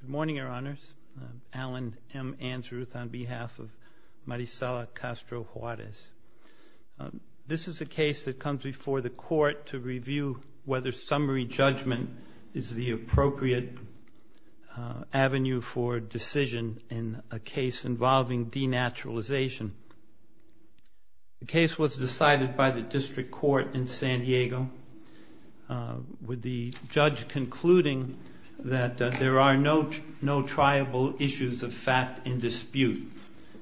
Good morning, Your Honors. I'm Alan M. Ansruth on behalf of Marisela Castro-Juarez. This is a case that comes before the Court to review whether summary judgment is the appropriate avenue for decision in a case involving denaturalization. The case was decided by the District Court in San Diego with the judge concluding that there are no triable issues of fact in dispute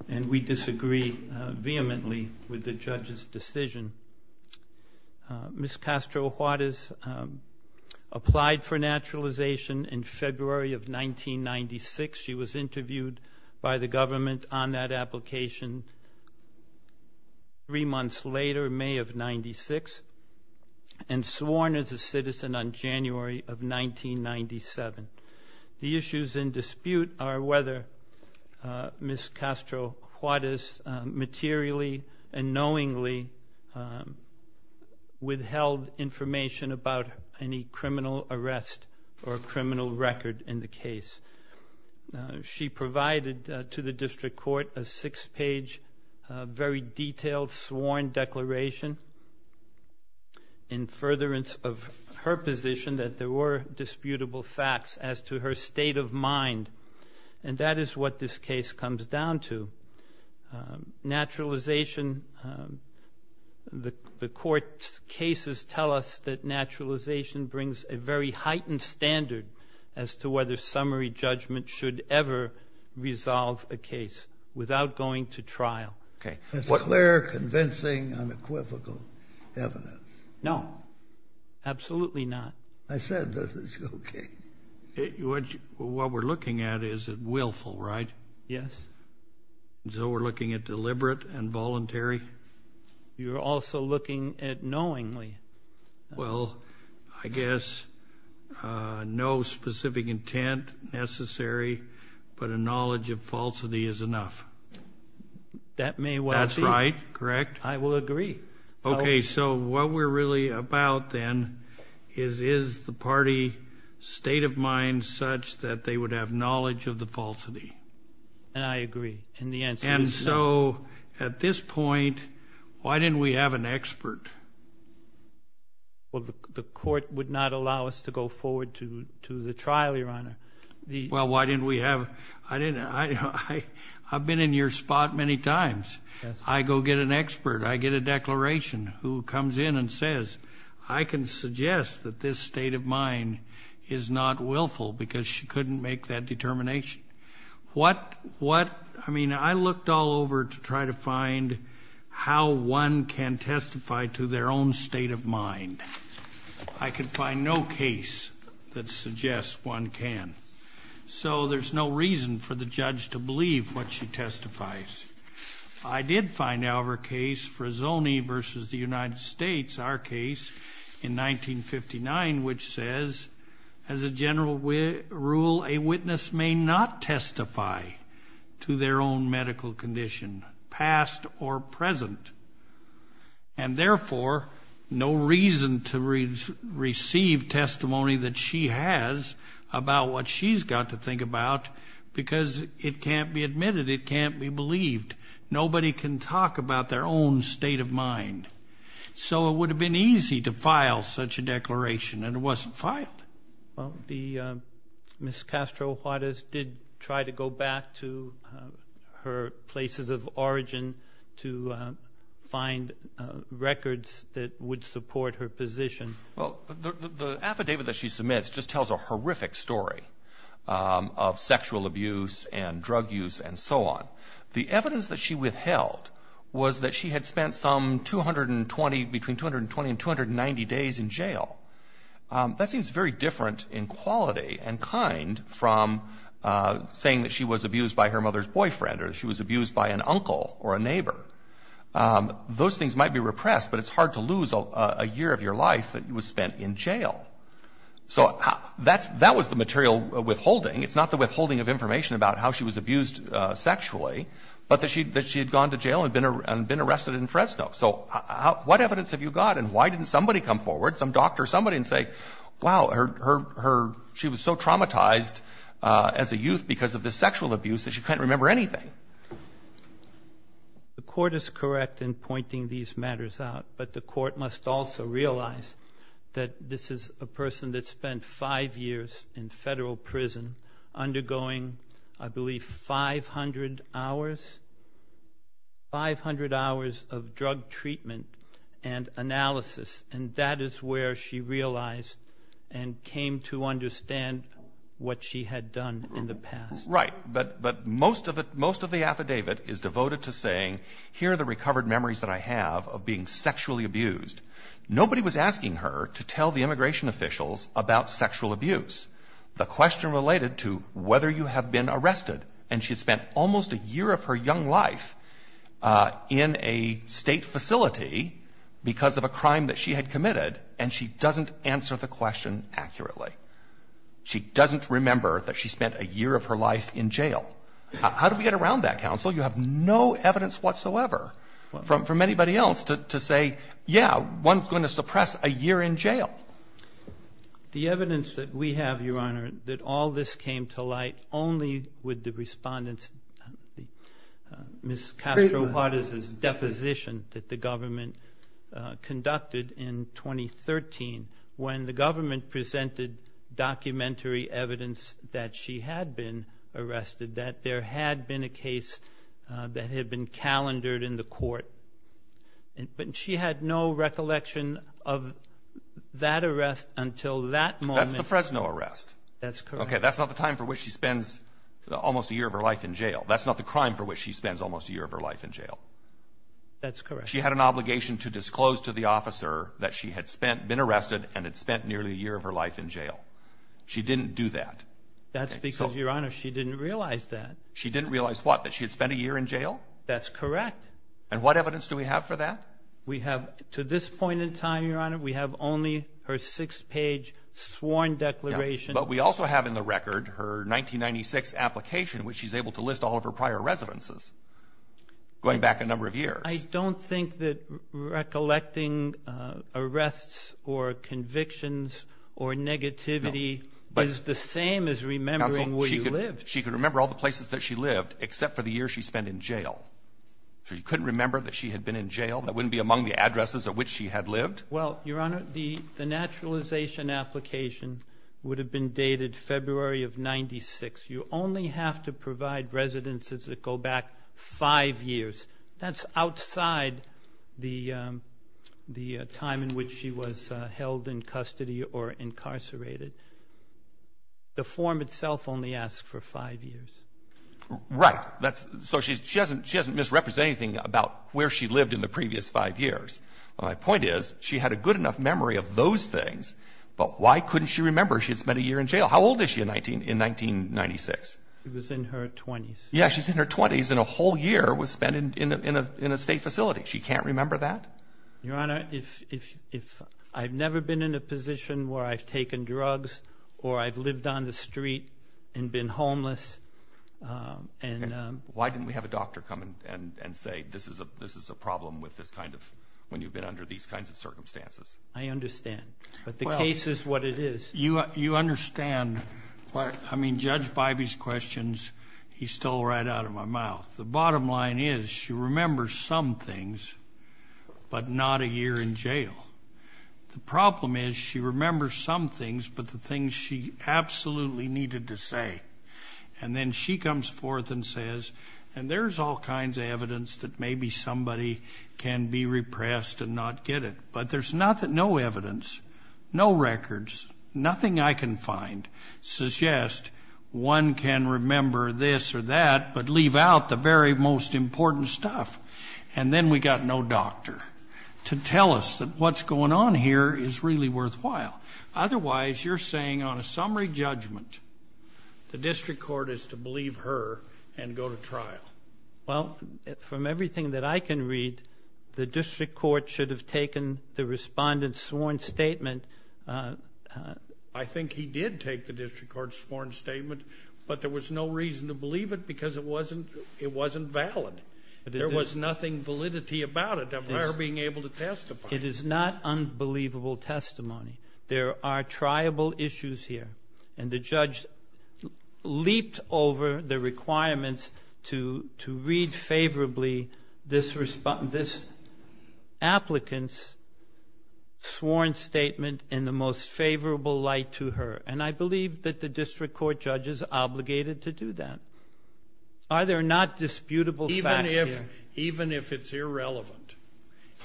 and we disagree vehemently with the judge's decision. Ms. Castro-Juarez applied for naturalization in February of 1996. She was interviewed by the government on that application three months later, May of 1996, and sworn as a citizen on January of 1997. The issues in dispute are whether Ms. Castro-Juarez materially and knowingly withheld information about any criminal arrest or criminal record in the case. She provided to the District Court a six-page very detailed sworn declaration in furtherance of her position that there were disputable facts as to her state of mind. And that is what this case comes down to. Naturalization, the Court's cases tell us that naturalization brings a very heightened standard as to whether summary judgment should ever resolve a case without going to trial. Okay. That's clear, convincing, unequivocal evidence. No, absolutely not. I said this is okay. What we're looking at is willful, right? Yes. So we're looking at deliberate and voluntary? You're also looking at knowingly. Well, I guess no specific intent necessary, but a knowledge of falsity is enough. That may well be. That's right. Correct? I will agree. Okay. So what we're really about then is, is the party state of mind such that they would have knowledge of the falsity? And I agree. And the answer is no. At this point, why didn't we have an expert? Well, the Court would not allow us to go forward to the trial, Your Honor. Well, why didn't we have? I've been in your spot many times. I go get an expert. I get a declaration who comes in and says, I can suggest that this state of mind is not willful because she couldn't make that determination. I mean, I looked all over to try to find how one can testify to their own state of mind. I could find no case that suggests one can. So there's no reason for the judge to believe what she testifies. I did find our case, Frazzoni versus the United States, our case in 1959, which says, as a general rule, a witness may not testify to their own medical condition, past or present. And therefore, no reason to receive testimony that she has about what she's got to think about because it can't be admitted. It can't be believed. Nobody can talk about their own state of mind. So it would have been easy to file such a declaration, and it wasn't filed. Well, Ms. Castro-Juarez did try to go back to her places of origin to find records that would support her position. Well, the affidavit that she submits just tells a horrific story of sexual abuse and drug use and so on. The evidence that she withheld was that she had spent some 220, between 220 and 290 days in jail. That seems very different in quality and kind from saying that she was abused by her mother's boyfriend or she was abused by an uncle or a neighbor. Those things might be repressed, but it's hard to lose a year of your life that was spent in jail. So that was the material withholding. It's not the withholding of information about how she was abused sexually, but that she had gone to jail and been arrested in Fresno. So what evidence have you got? And why didn't somebody come forward, some doctor, somebody, and say, wow, she was so traumatized as a youth because of this sexual abuse that she can't remember anything? The Court is correct in pointing these matters out, but the Court must also realize that this is a person that spent five years in federal prison undergoing, I believe, 500 hours, 500 hours of drug treatment and analysis. And that is where she realized and came to understand what she had done in the past. Right. But most of the affidavit is devoted to saying, here are the recovered memories that I have of being sexually abused. Nobody was asking her to tell the immigration officials about sexual abuse. The question related to whether you have been arrested, and she had spent almost a year of her young life in a state facility because of a crime that she had committed, and she doesn't answer the question accurately. She doesn't remember that she spent a year of her life in jail. How do we get around that, counsel? You have no evidence whatsoever from anybody else to say, yeah, one's going to suppress a year in jail. The evidence that we have, Your Honor, that all this came to light only with the respondents, Ms. Castro-Hortiz's deposition that the government conducted in 2013, when the government presented documentary evidence that she had been arrested, that there had been a case that had been calendared in the Court. And she had no recollection of that arrest until that moment. That's the Fresno arrest. That's correct. Okay, that's not the time for which she spends almost a year of her life in jail. That's not the crime for which she spends almost a year of her life in jail. That's correct. She had an obligation to disclose to the officer that she had been arrested and had spent nearly a year of her life in jail. She didn't do that. That's because, Your Honor, she didn't realize that. She didn't realize what? That she had spent a year in jail? That's correct. And what evidence do we have for that? We have, to this point in time, Your Honor, we have only her six-page sworn declaration. But we also have in the record her 1996 application, which she's able to list all of her prior residences, going back a number of years. I don't think that recollecting arrests or convictions or negativity is the same as remembering where you lived. She could remember all the places that she lived, except for the years she spent in jail. She couldn't remember that she had been in jail? That wouldn't be among the addresses at which she had lived? Well, Your Honor, the naturalization application would have been dated February of 1996. You only have to provide residences that go back five years. That's outside the time in which she was held in custody or incarcerated. The form itself only asks for five years. Right. So she doesn't misrepresent anything about where she lived in the previous five years. My point is, she had a good enough memory of those things, but why couldn't she remember she had spent a year in jail? How old is she in 1996? She was in her 20s. Yeah, she's in her 20s and a whole year was spent in a state facility. She can't remember that? Your Honor, if I've never been in a position where I've taken drugs or I've lived on the street and been homeless and... Why didn't we have a doctor come and say, this is a problem with this kind of, when you've been under these kinds of circumstances? I understand. But the case is what it is. You understand. I mean, Judge Bybee's questions, he stole right out of my mouth. The bottom line is, she remembers some things, but not a year in jail. The problem is, she remembers some things, but the things she absolutely needed to say. And then she comes forth and says, and there's all kinds of evidence that maybe somebody can be repressed and not get it. But there's no evidence, no records, nothing I can find, suggest one can remember this or that, but leave out the very most important stuff. And then we got no doctor to tell us that what's going on here is really worthwhile. Otherwise, you're saying on a summary judgment, the district court is to believe her and go to trial. Well, from everything that I can read, the district court should have taken the respondent's sworn statement. I think he did take the district court's sworn statement, but there was no reason to believe it because it wasn't valid. There was nothing validity about it of her being able to testify. It is not unbelievable testimony. There are triable issues here. And the judge leaped over the requirements to read favorably this applicant's sworn statement in the most favorable light to her. And I believe that the district court judge is obligated to do that. Are there not disputable facts here? Even if it's irrelevant,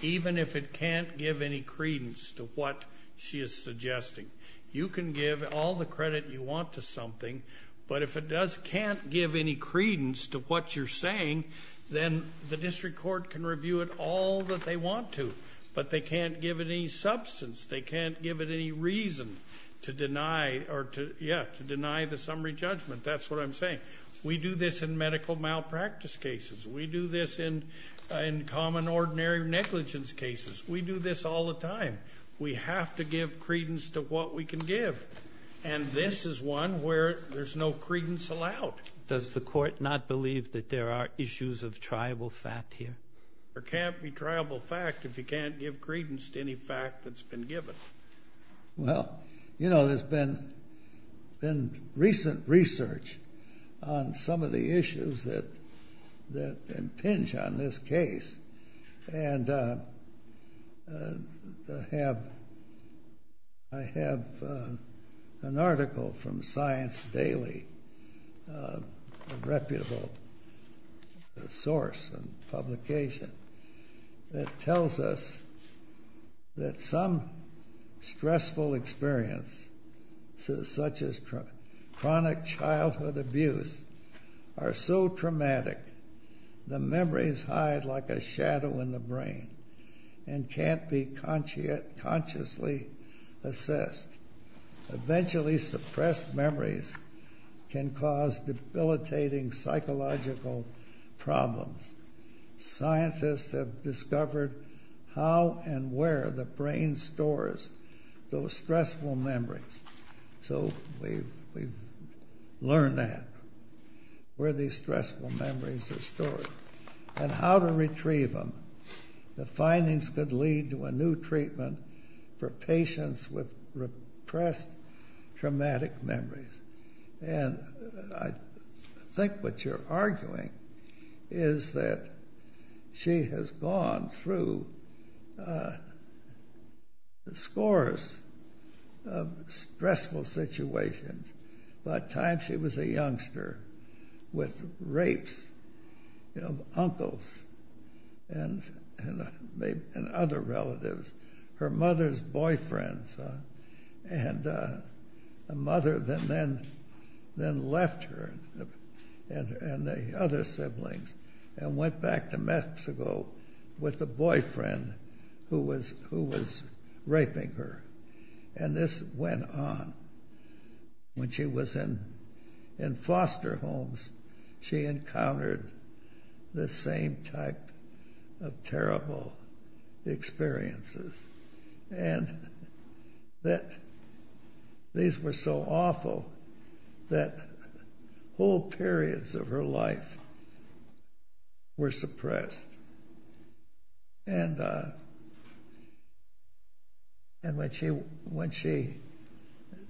even if it can't give any credence to what she is suggesting, you can give all the credit you want to something. But if it does can't give any credence to what you're saying, then the district court can review it all that they want to. But they can't give it any substance. They can't give it any reason to deny or to, yeah, to deny the summary judgment. That's what I'm saying. We do this in medical malpractice cases. We do this in common ordinary negligence cases. We do this all the time. We have to give credence to what we can give. And this is one where there's no credence allowed. Does the court not believe that there are issues of triable fact here? There can't be triable fact if you can't give credence to any fact that's been given. Well, you know, there's been recent research on some of the issues that impinge on this case. And I have an article from Science Daily, a reputable source and publication, that tells us that some stressful experiences such as chronic childhood abuse are so traumatic the memories hide like a shadow in the brain and can't be consciously assessed. Eventually suppressed memories can cause debilitating psychological problems. Scientists have discovered how and where the brain stores those stressful memories. So we've learned that, where these stressful memories are stored and how to retrieve them. The findings could lead to a new treatment for patients with repressed traumatic memories. And I think what you're arguing is that she has gone through scores of stressful situations. By the time she was a youngster with rapes of uncles and other relatives. Her mother's boyfriend and a mother then left her and the other siblings and went back to Mexico with the boyfriend who was raping her. And this went on. When she was in foster homes she encountered the same type of terrible experiences. And that these were so awful that whole periods of her life were suppressed. And when she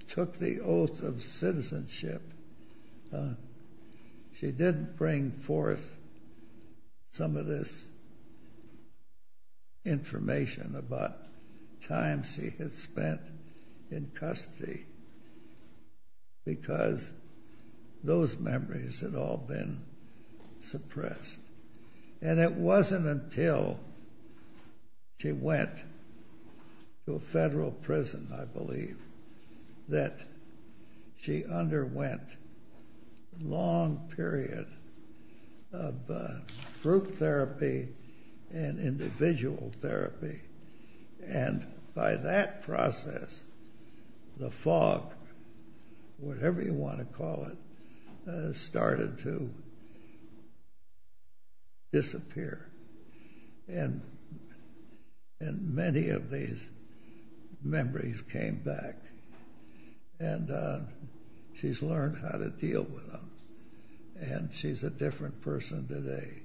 took the oath of citizenship she did bring forth some of this information about times she had spent in custody. Because those memories had all been suppressed. And it wasn't until she went to a federal prison, I believe, that she underwent a long period of group therapy and individual therapy. And by that process the fog, whatever you want to call it, started to disappear. And many of these memories came back. And she's learned how to deal with them. And she's a different person today.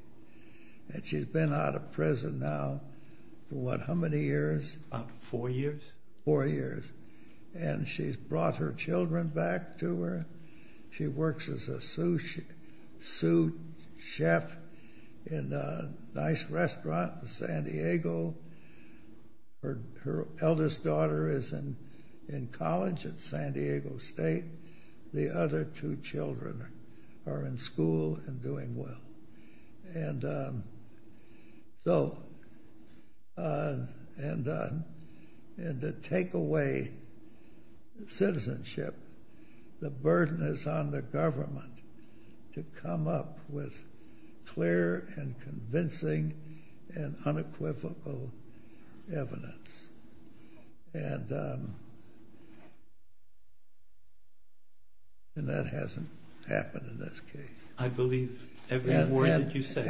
And she's been out of prison now for what, how many years? About four years. Four years. And she's brought her children back to her. She works as a sous chef in a nice restaurant in San Diego. Her eldest daughter is in college at San Diego State. The other two children are in school and doing well. And so, and to take away citizenship, the burden is on the government to come up with clear and convincing and unequivocal evidence. And that hasn't happened in this case. I believe every word that you say.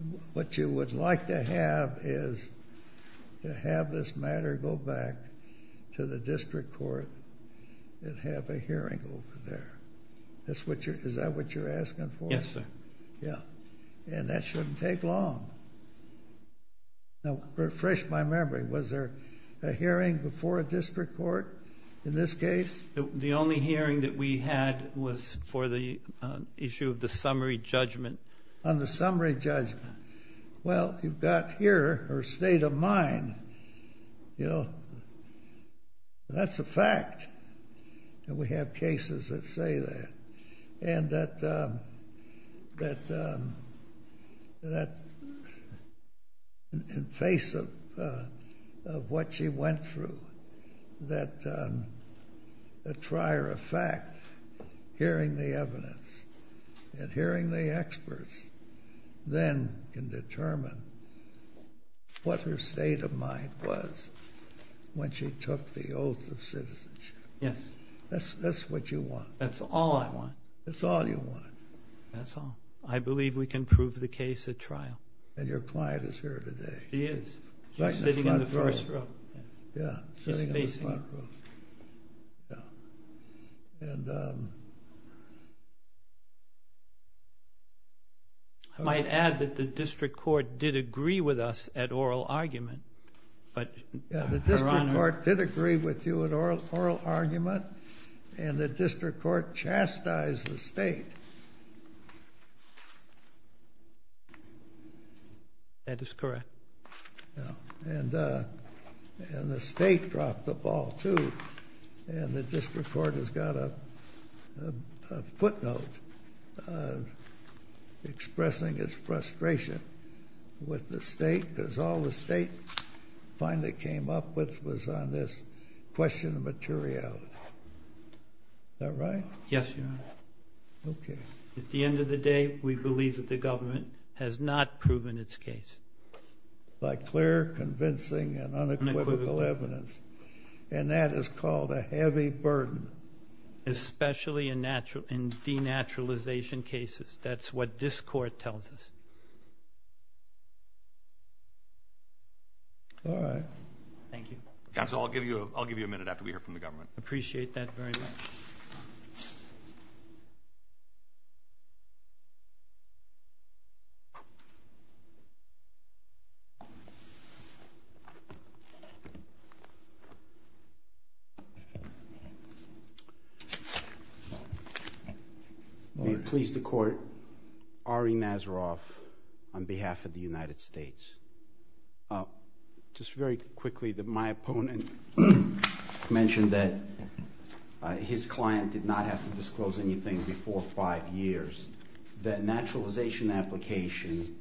And what you would like to have is to have this matter go back to the district court and have a hearing over there. Is that what you're asking for? Yes, sir. Yeah. And that shouldn't take long. Now, refresh my memory. Was there a hearing before a district court in this case? The only hearing that we had was for the issue of the summary judgment. On the summary judgment. Well, you've got here her state of mind, you know. That's a fact that we have cases that say that. And that in face of what she went through, that a trier of fact, hearing the evidence and hearing the experts, then can determine what her state of mind was when she took the oath of citizenship. Yes. That's what you want. That's all I want. That's all you want. That's all. I believe we can prove the case at trial. And your client is here today. She is. She's sitting in the front row. Yeah, sitting in the front row. I might add that the district court did agree with us at oral argument. Yeah, the district court did agree with you at oral argument. And the district court chastised the state. That is correct. And the state dropped the ball, too. And the district court has got a footnote expressing its frustration with the state. Because all the state finally came up with was on this question of materiality. Is that right? Yes, Your Honor. Okay. At the end of the day, we believe that the government has not proven its case. By clear, convincing, and unequivocal evidence. And that is called a heavy burden. Especially in denaturalization cases. That's what this court tells us. All right. Thank you. Counsel, I'll give you a minute after we hear from the government. Appreciate that very much. May it please the court. Ari Nazaroff on behalf of the United States. Oh, just very quickly. My opponent mentioned that his client did not have to disclose anything before five years. That naturalization application,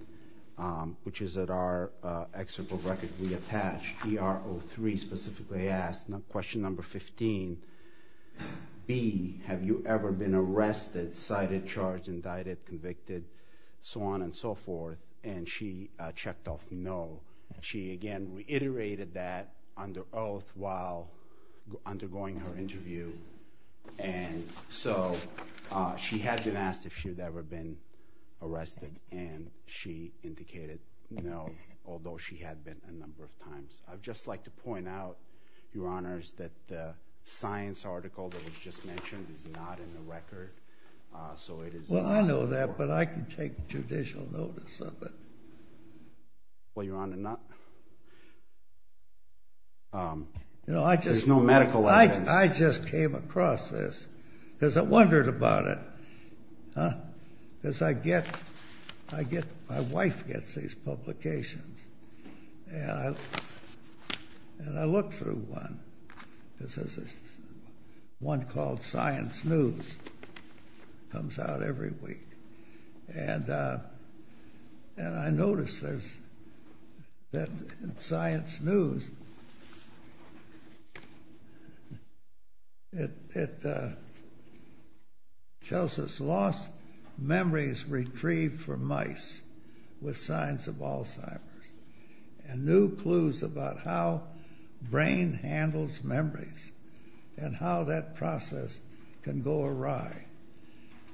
which is at our excerpt of record we attached, DRO3 specifically asked question number 15, B, have you ever been arrested, cited, charged, indicted, convicted, so on and so forth. And she checked off no. She, again, reiterated that under oath while undergoing her interview. And so she had been asked if she had ever been arrested. And she indicated no. Although she had been a number of times. I'd just like to point out, Your Honors, that the science article that was just mentioned is not in the record. So it is not. Well, I know that, but I can take judicial notice of it. Well, Your Honor, there's no medical evidence. I just came across this because I wondered about it. Because I get, my wife gets these publications, and I look through one. This is one called Science News. It comes out every week. And I noticed that in Science News, it tells us lost memories retrieved from mice with Alzheimer's, and new clues about how brain handles memories, and how that process can go awry.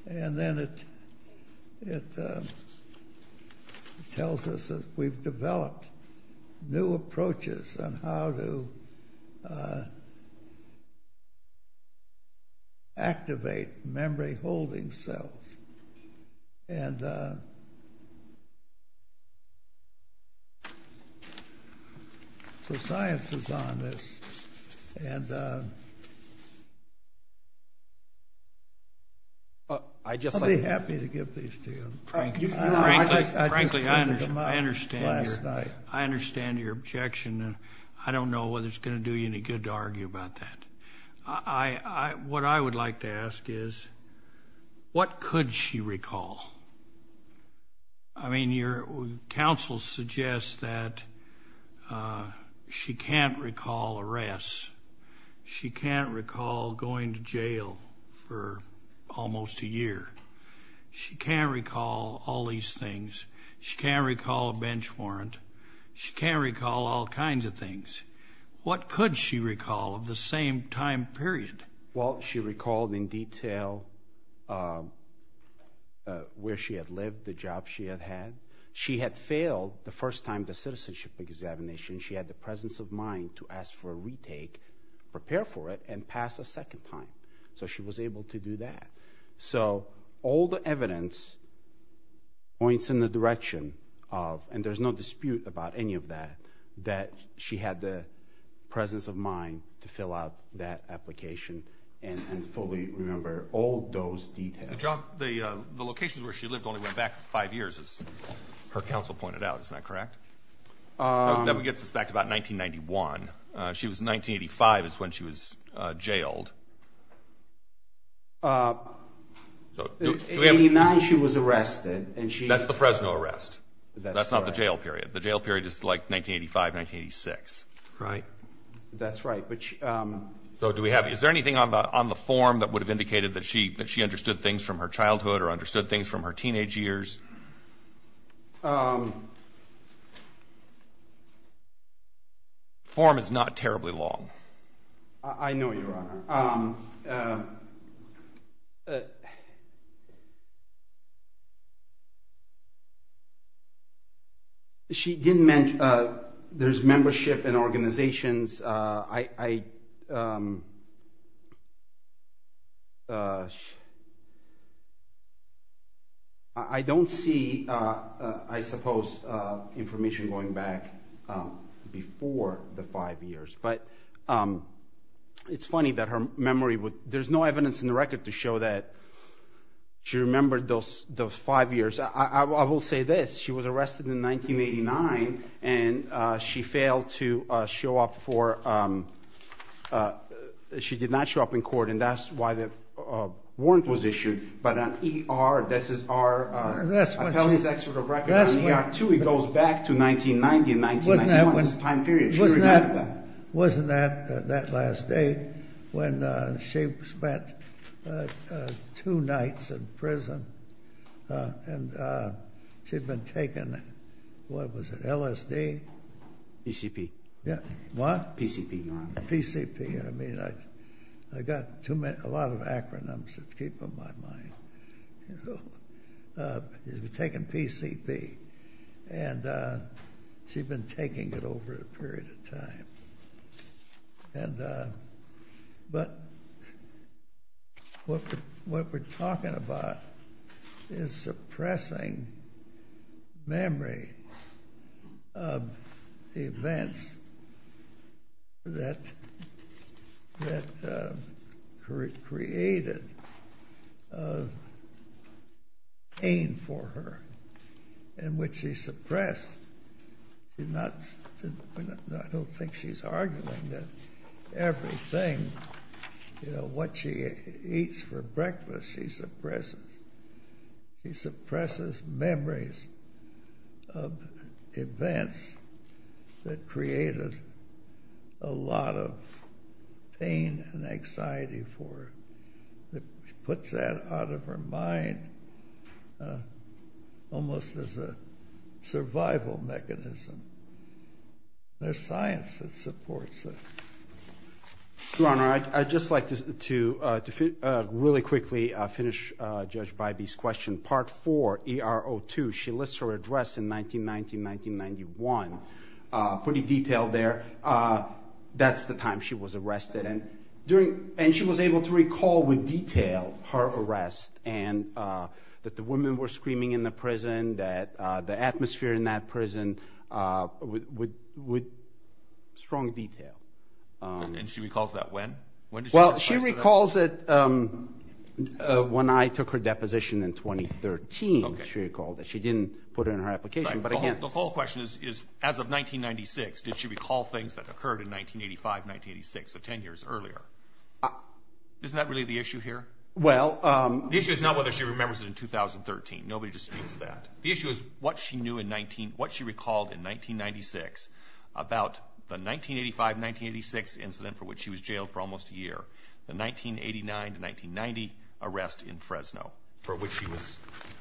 And then it tells us that we've developed new approaches on how to activate memory-holding cells. And so science is on this. And I'll be happy to give these to you. Frankly, I understand your objection, and I don't know whether it's going to do you any good to argue about that. I, what I would like to ask is, what could she recall? I mean, your counsel suggests that she can't recall arrests. She can't recall going to jail for almost a year. She can't recall all these things. She can't recall a bench warrant. She can't recall all kinds of things. What could she recall of the same time period? Well, she recalled in detail where she had lived, the job she had had. She had failed the first time, the citizenship examination. She had the presence of mind to ask for a retake, prepare for it, and pass a second time. So she was able to do that. So all the evidence points in the direction of, and there's no dispute about any of that, that she had the presence of mind to fill out that application and fully remember all those details. The job, the locations where she lived only went back five years, as her counsel pointed out. Isn't that correct? That would get us back to about 1991. She was, 1985 is when she was jailed. In 89, she was arrested, and she- That's the Fresno arrest. That's not the jail period. The jail period is like 1985, 1986. Right. That's right. So do we have, is there anything on the form that would have indicated that she understood things from her childhood or understood things from her teenage years? I know, Your Honor. She didn't mention, there's membership in organizations, I don't see, I suppose, information going back before the five years. But it's funny that her memory would, there's no evidence in the record to show that she remembered those five years. I will say this. She was arrested in 1989, and she failed to show up for, she did not show up in court, and that's why the warrant was issued. But on ER, this is our Appellant's Executive Record, on ER 2, it goes back to 1990 and 1991, this time period. Wasn't that that last day when she spent two nights in prison? And she'd been taken, what was it, LSD? PCP. Yeah. What? PCP. PCP. I mean, I got a lot of acronyms to keep in my mind. She'd been taken PCP, and she'd been taking it over a period of time. And, but what we're talking about is suppressing memory of events that created pain for her, and which she suppressed. She did not, I don't think she's arguing that everything, you know, what she eats for breakfast she suppresses. She suppresses memories of events that created a lot of pain and anxiety for her. She puts that out of her mind almost as a survival mechanism. There's science that supports it. Your Honor, I'd just like to really quickly finish Judge Bybee's question. Part 4, ER 02, she lists her address in 1990, 1991, pretty detailed there. That's the time she was arrested. And during, and she was able to recall with detail her arrest, and that the women were screaming in the prison, that the atmosphere in that prison with strong detail. And she recalls that when? Well, she recalls it when I took her deposition in 2013, she recalled that. She didn't put it in her application, but again. The whole question is, as of 1996, did she recall things that occurred in 1985, 1986, so 10 years earlier? Isn't that really the issue here? Well. The issue is not whether she remembers it in 2013. Nobody disputes that. The issue is what she knew in 19, what she recalled in 1996 about the 1985, 1986 incident for which she was jailed for almost a year. The 1989 to 1990 arrest in Fresno, for which she was,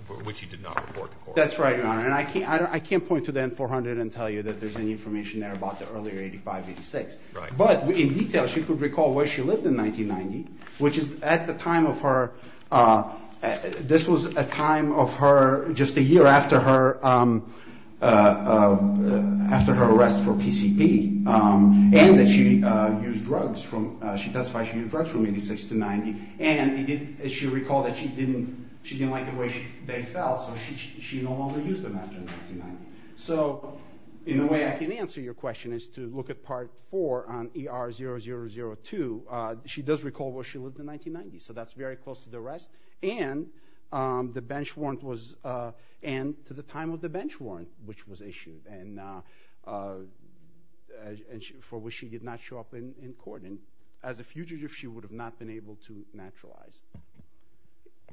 for which she did not report to court. That's right, Your Honor. And I can't, I can't point to the N-400 and tell you that there's any information there about the earlier 85, 86. Right. But in detail, she could recall where she lived in 1990, which is at the time of her, this was a time of her, just a year after her, after her arrest for PCP. And that she used drugs from, she testified she used drugs from 86 to 90. And she recalled that she didn't, she didn't like the way they felt. So she, she no longer used them after 1990. So in a way I can answer your question is to look at part four on ER 0002. She does recall where she lived in 1990. So that's very close to the rest. And the bench warrant was, and to the time of the bench warrant, which was issued and for which she did not show up in court. As a fugitive, she would have not been able to naturalize.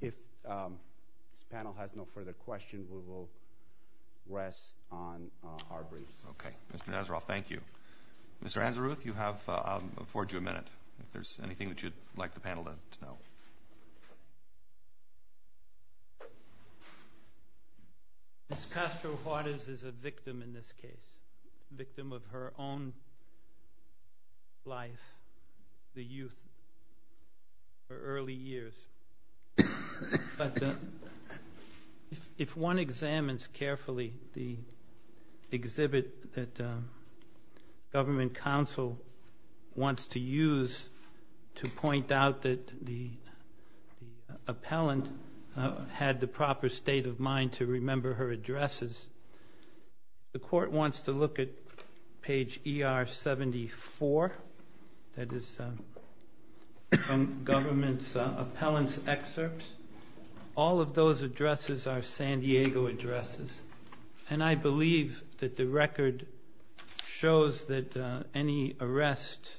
If this panel has no further questions, we will rest on our briefs. Okay. Mr. Nazaroff, thank you. Mr. Anzaruth, you have, I'll afford you a minute. If there's anything that you'd like the panel to know. Ms. Castro-Hortiz is a victim in this case. Victim of her own life, the youth, her early years. But if, if one examines carefully the exhibit that government counsel wants to use to point out that the, the appellant had the proper state of mind to remember her addresses, the court wants to look at page ER 74. That is from government's appellant's excerpts. All of those addresses are San Diego addresses. And I believe that the record shows that any arrest,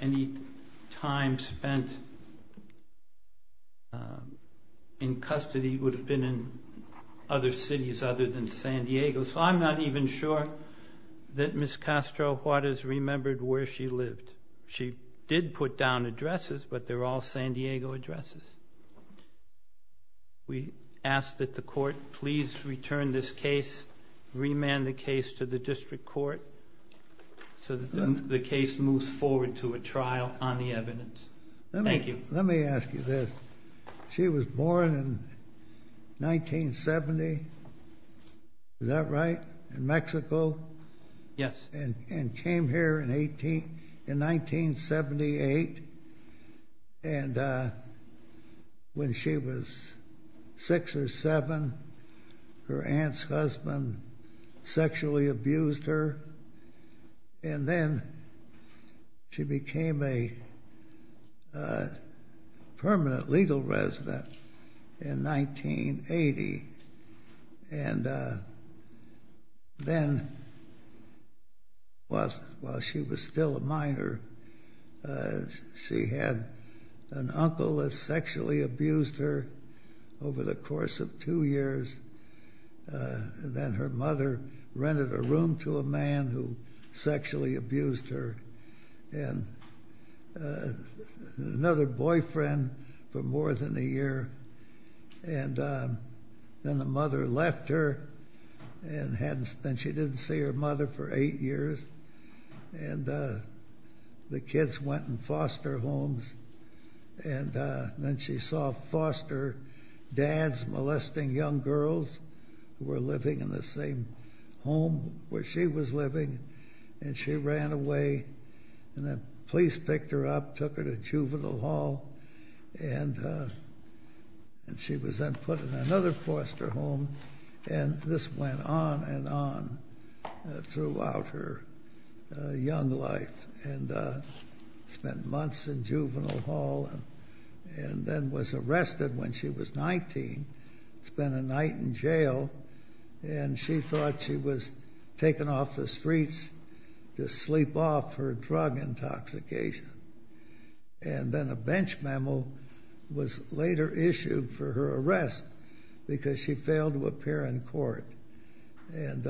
any time spent in custody would have been in other cities other than San Diego. So I'm not even sure that Ms. Castro-Hortiz remembered where she lived. She did put down addresses, but they're all San Diego addresses. We ask that the court please return this case, remand the case to the district court so that the case moves forward to a trial on the evidence. Let me, let me ask you this. She was born in 1970. Is that right? In Mexico? Yes. And, and came here in 18, in 1978. And when she was six or seven, her aunt's husband sexually abused her. And then she became a permanent legal resident in 1980. And then while, while she was still a minor, she had an uncle that sexually abused her over the course of two years. And then her mother rented a room to a man who sexually abused her. And another boyfriend for more than a year. And then the mother left her and hadn't, and she didn't see her mother for eight years. And the kids went in foster homes. And then she saw foster dads molesting young girls who were living in the same home where she was living. And she ran away. And the police picked her up, took her to juvenile hall. And, and she was then put in another foster home. And this went on and on throughout her young life. And spent months in juvenile hall. And then was arrested when she was 19. Spent a night in jail. And she thought she was taken off the streets to sleep off her drug intoxication. And then a bench memo was later issued for her arrest because she failed to appear in court. And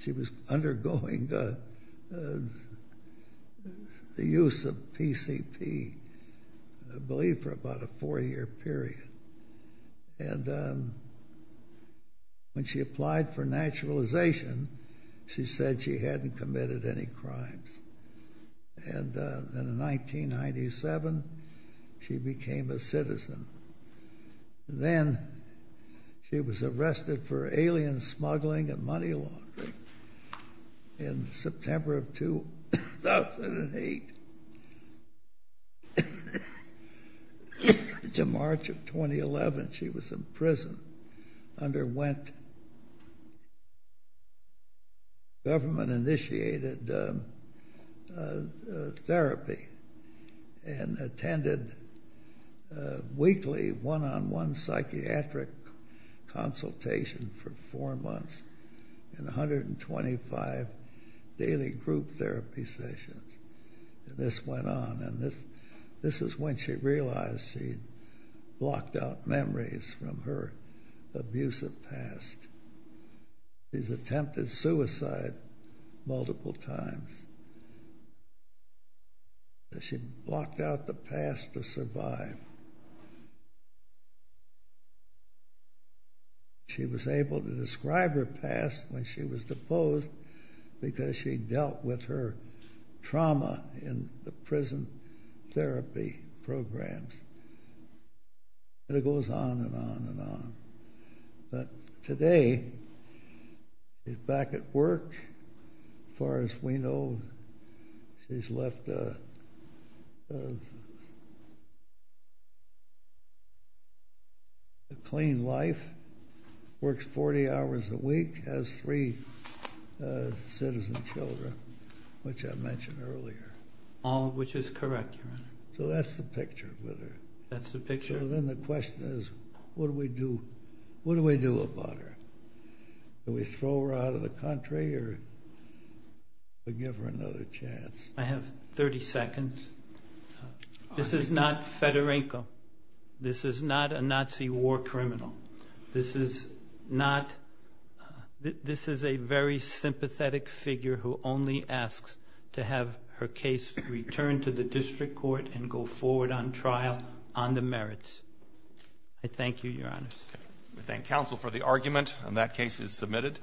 she was undergoing the use of PCP, I believe, for about a four-year period. And when she applied for naturalization, she said she hadn't committed any crimes. And in 1997, she became a citizen. And then she was arrested for alien smuggling and money laundering in September of 2008. To March of 2011, she was in prison, underwent government-initiated therapy, and attended weekly one-on-one psychiatric consultation for four months. And 125 daily group therapy sessions. And this went on. And this, this is when she realized she'd blocked out memories from her abusive past. She's attempted suicide multiple times. And she blocked out the past to survive. She was able to describe her past when she was deposed because she dealt with her trauma in the prison therapy programs. And it goes on and on and on. But today, she's back at work. As far as we know, she's left a clean life. Works 40 hours a week. Has three citizen children, which I mentioned earlier. All of which is correct, Your Honor. So that's the picture with her. That's the picture. So then the question is, what do we do? What do we do about her? Do we throw her out of the country or give her another chance? I have 30 seconds. This is not Fedorenko. This is not a Nazi war criminal. This is not, this is a very sympathetic figure who only asks to have her case returned to the district court and go forward on trial on the merits. I thank you, Your Honor. We thank counsel for the argument. And that case is submitted.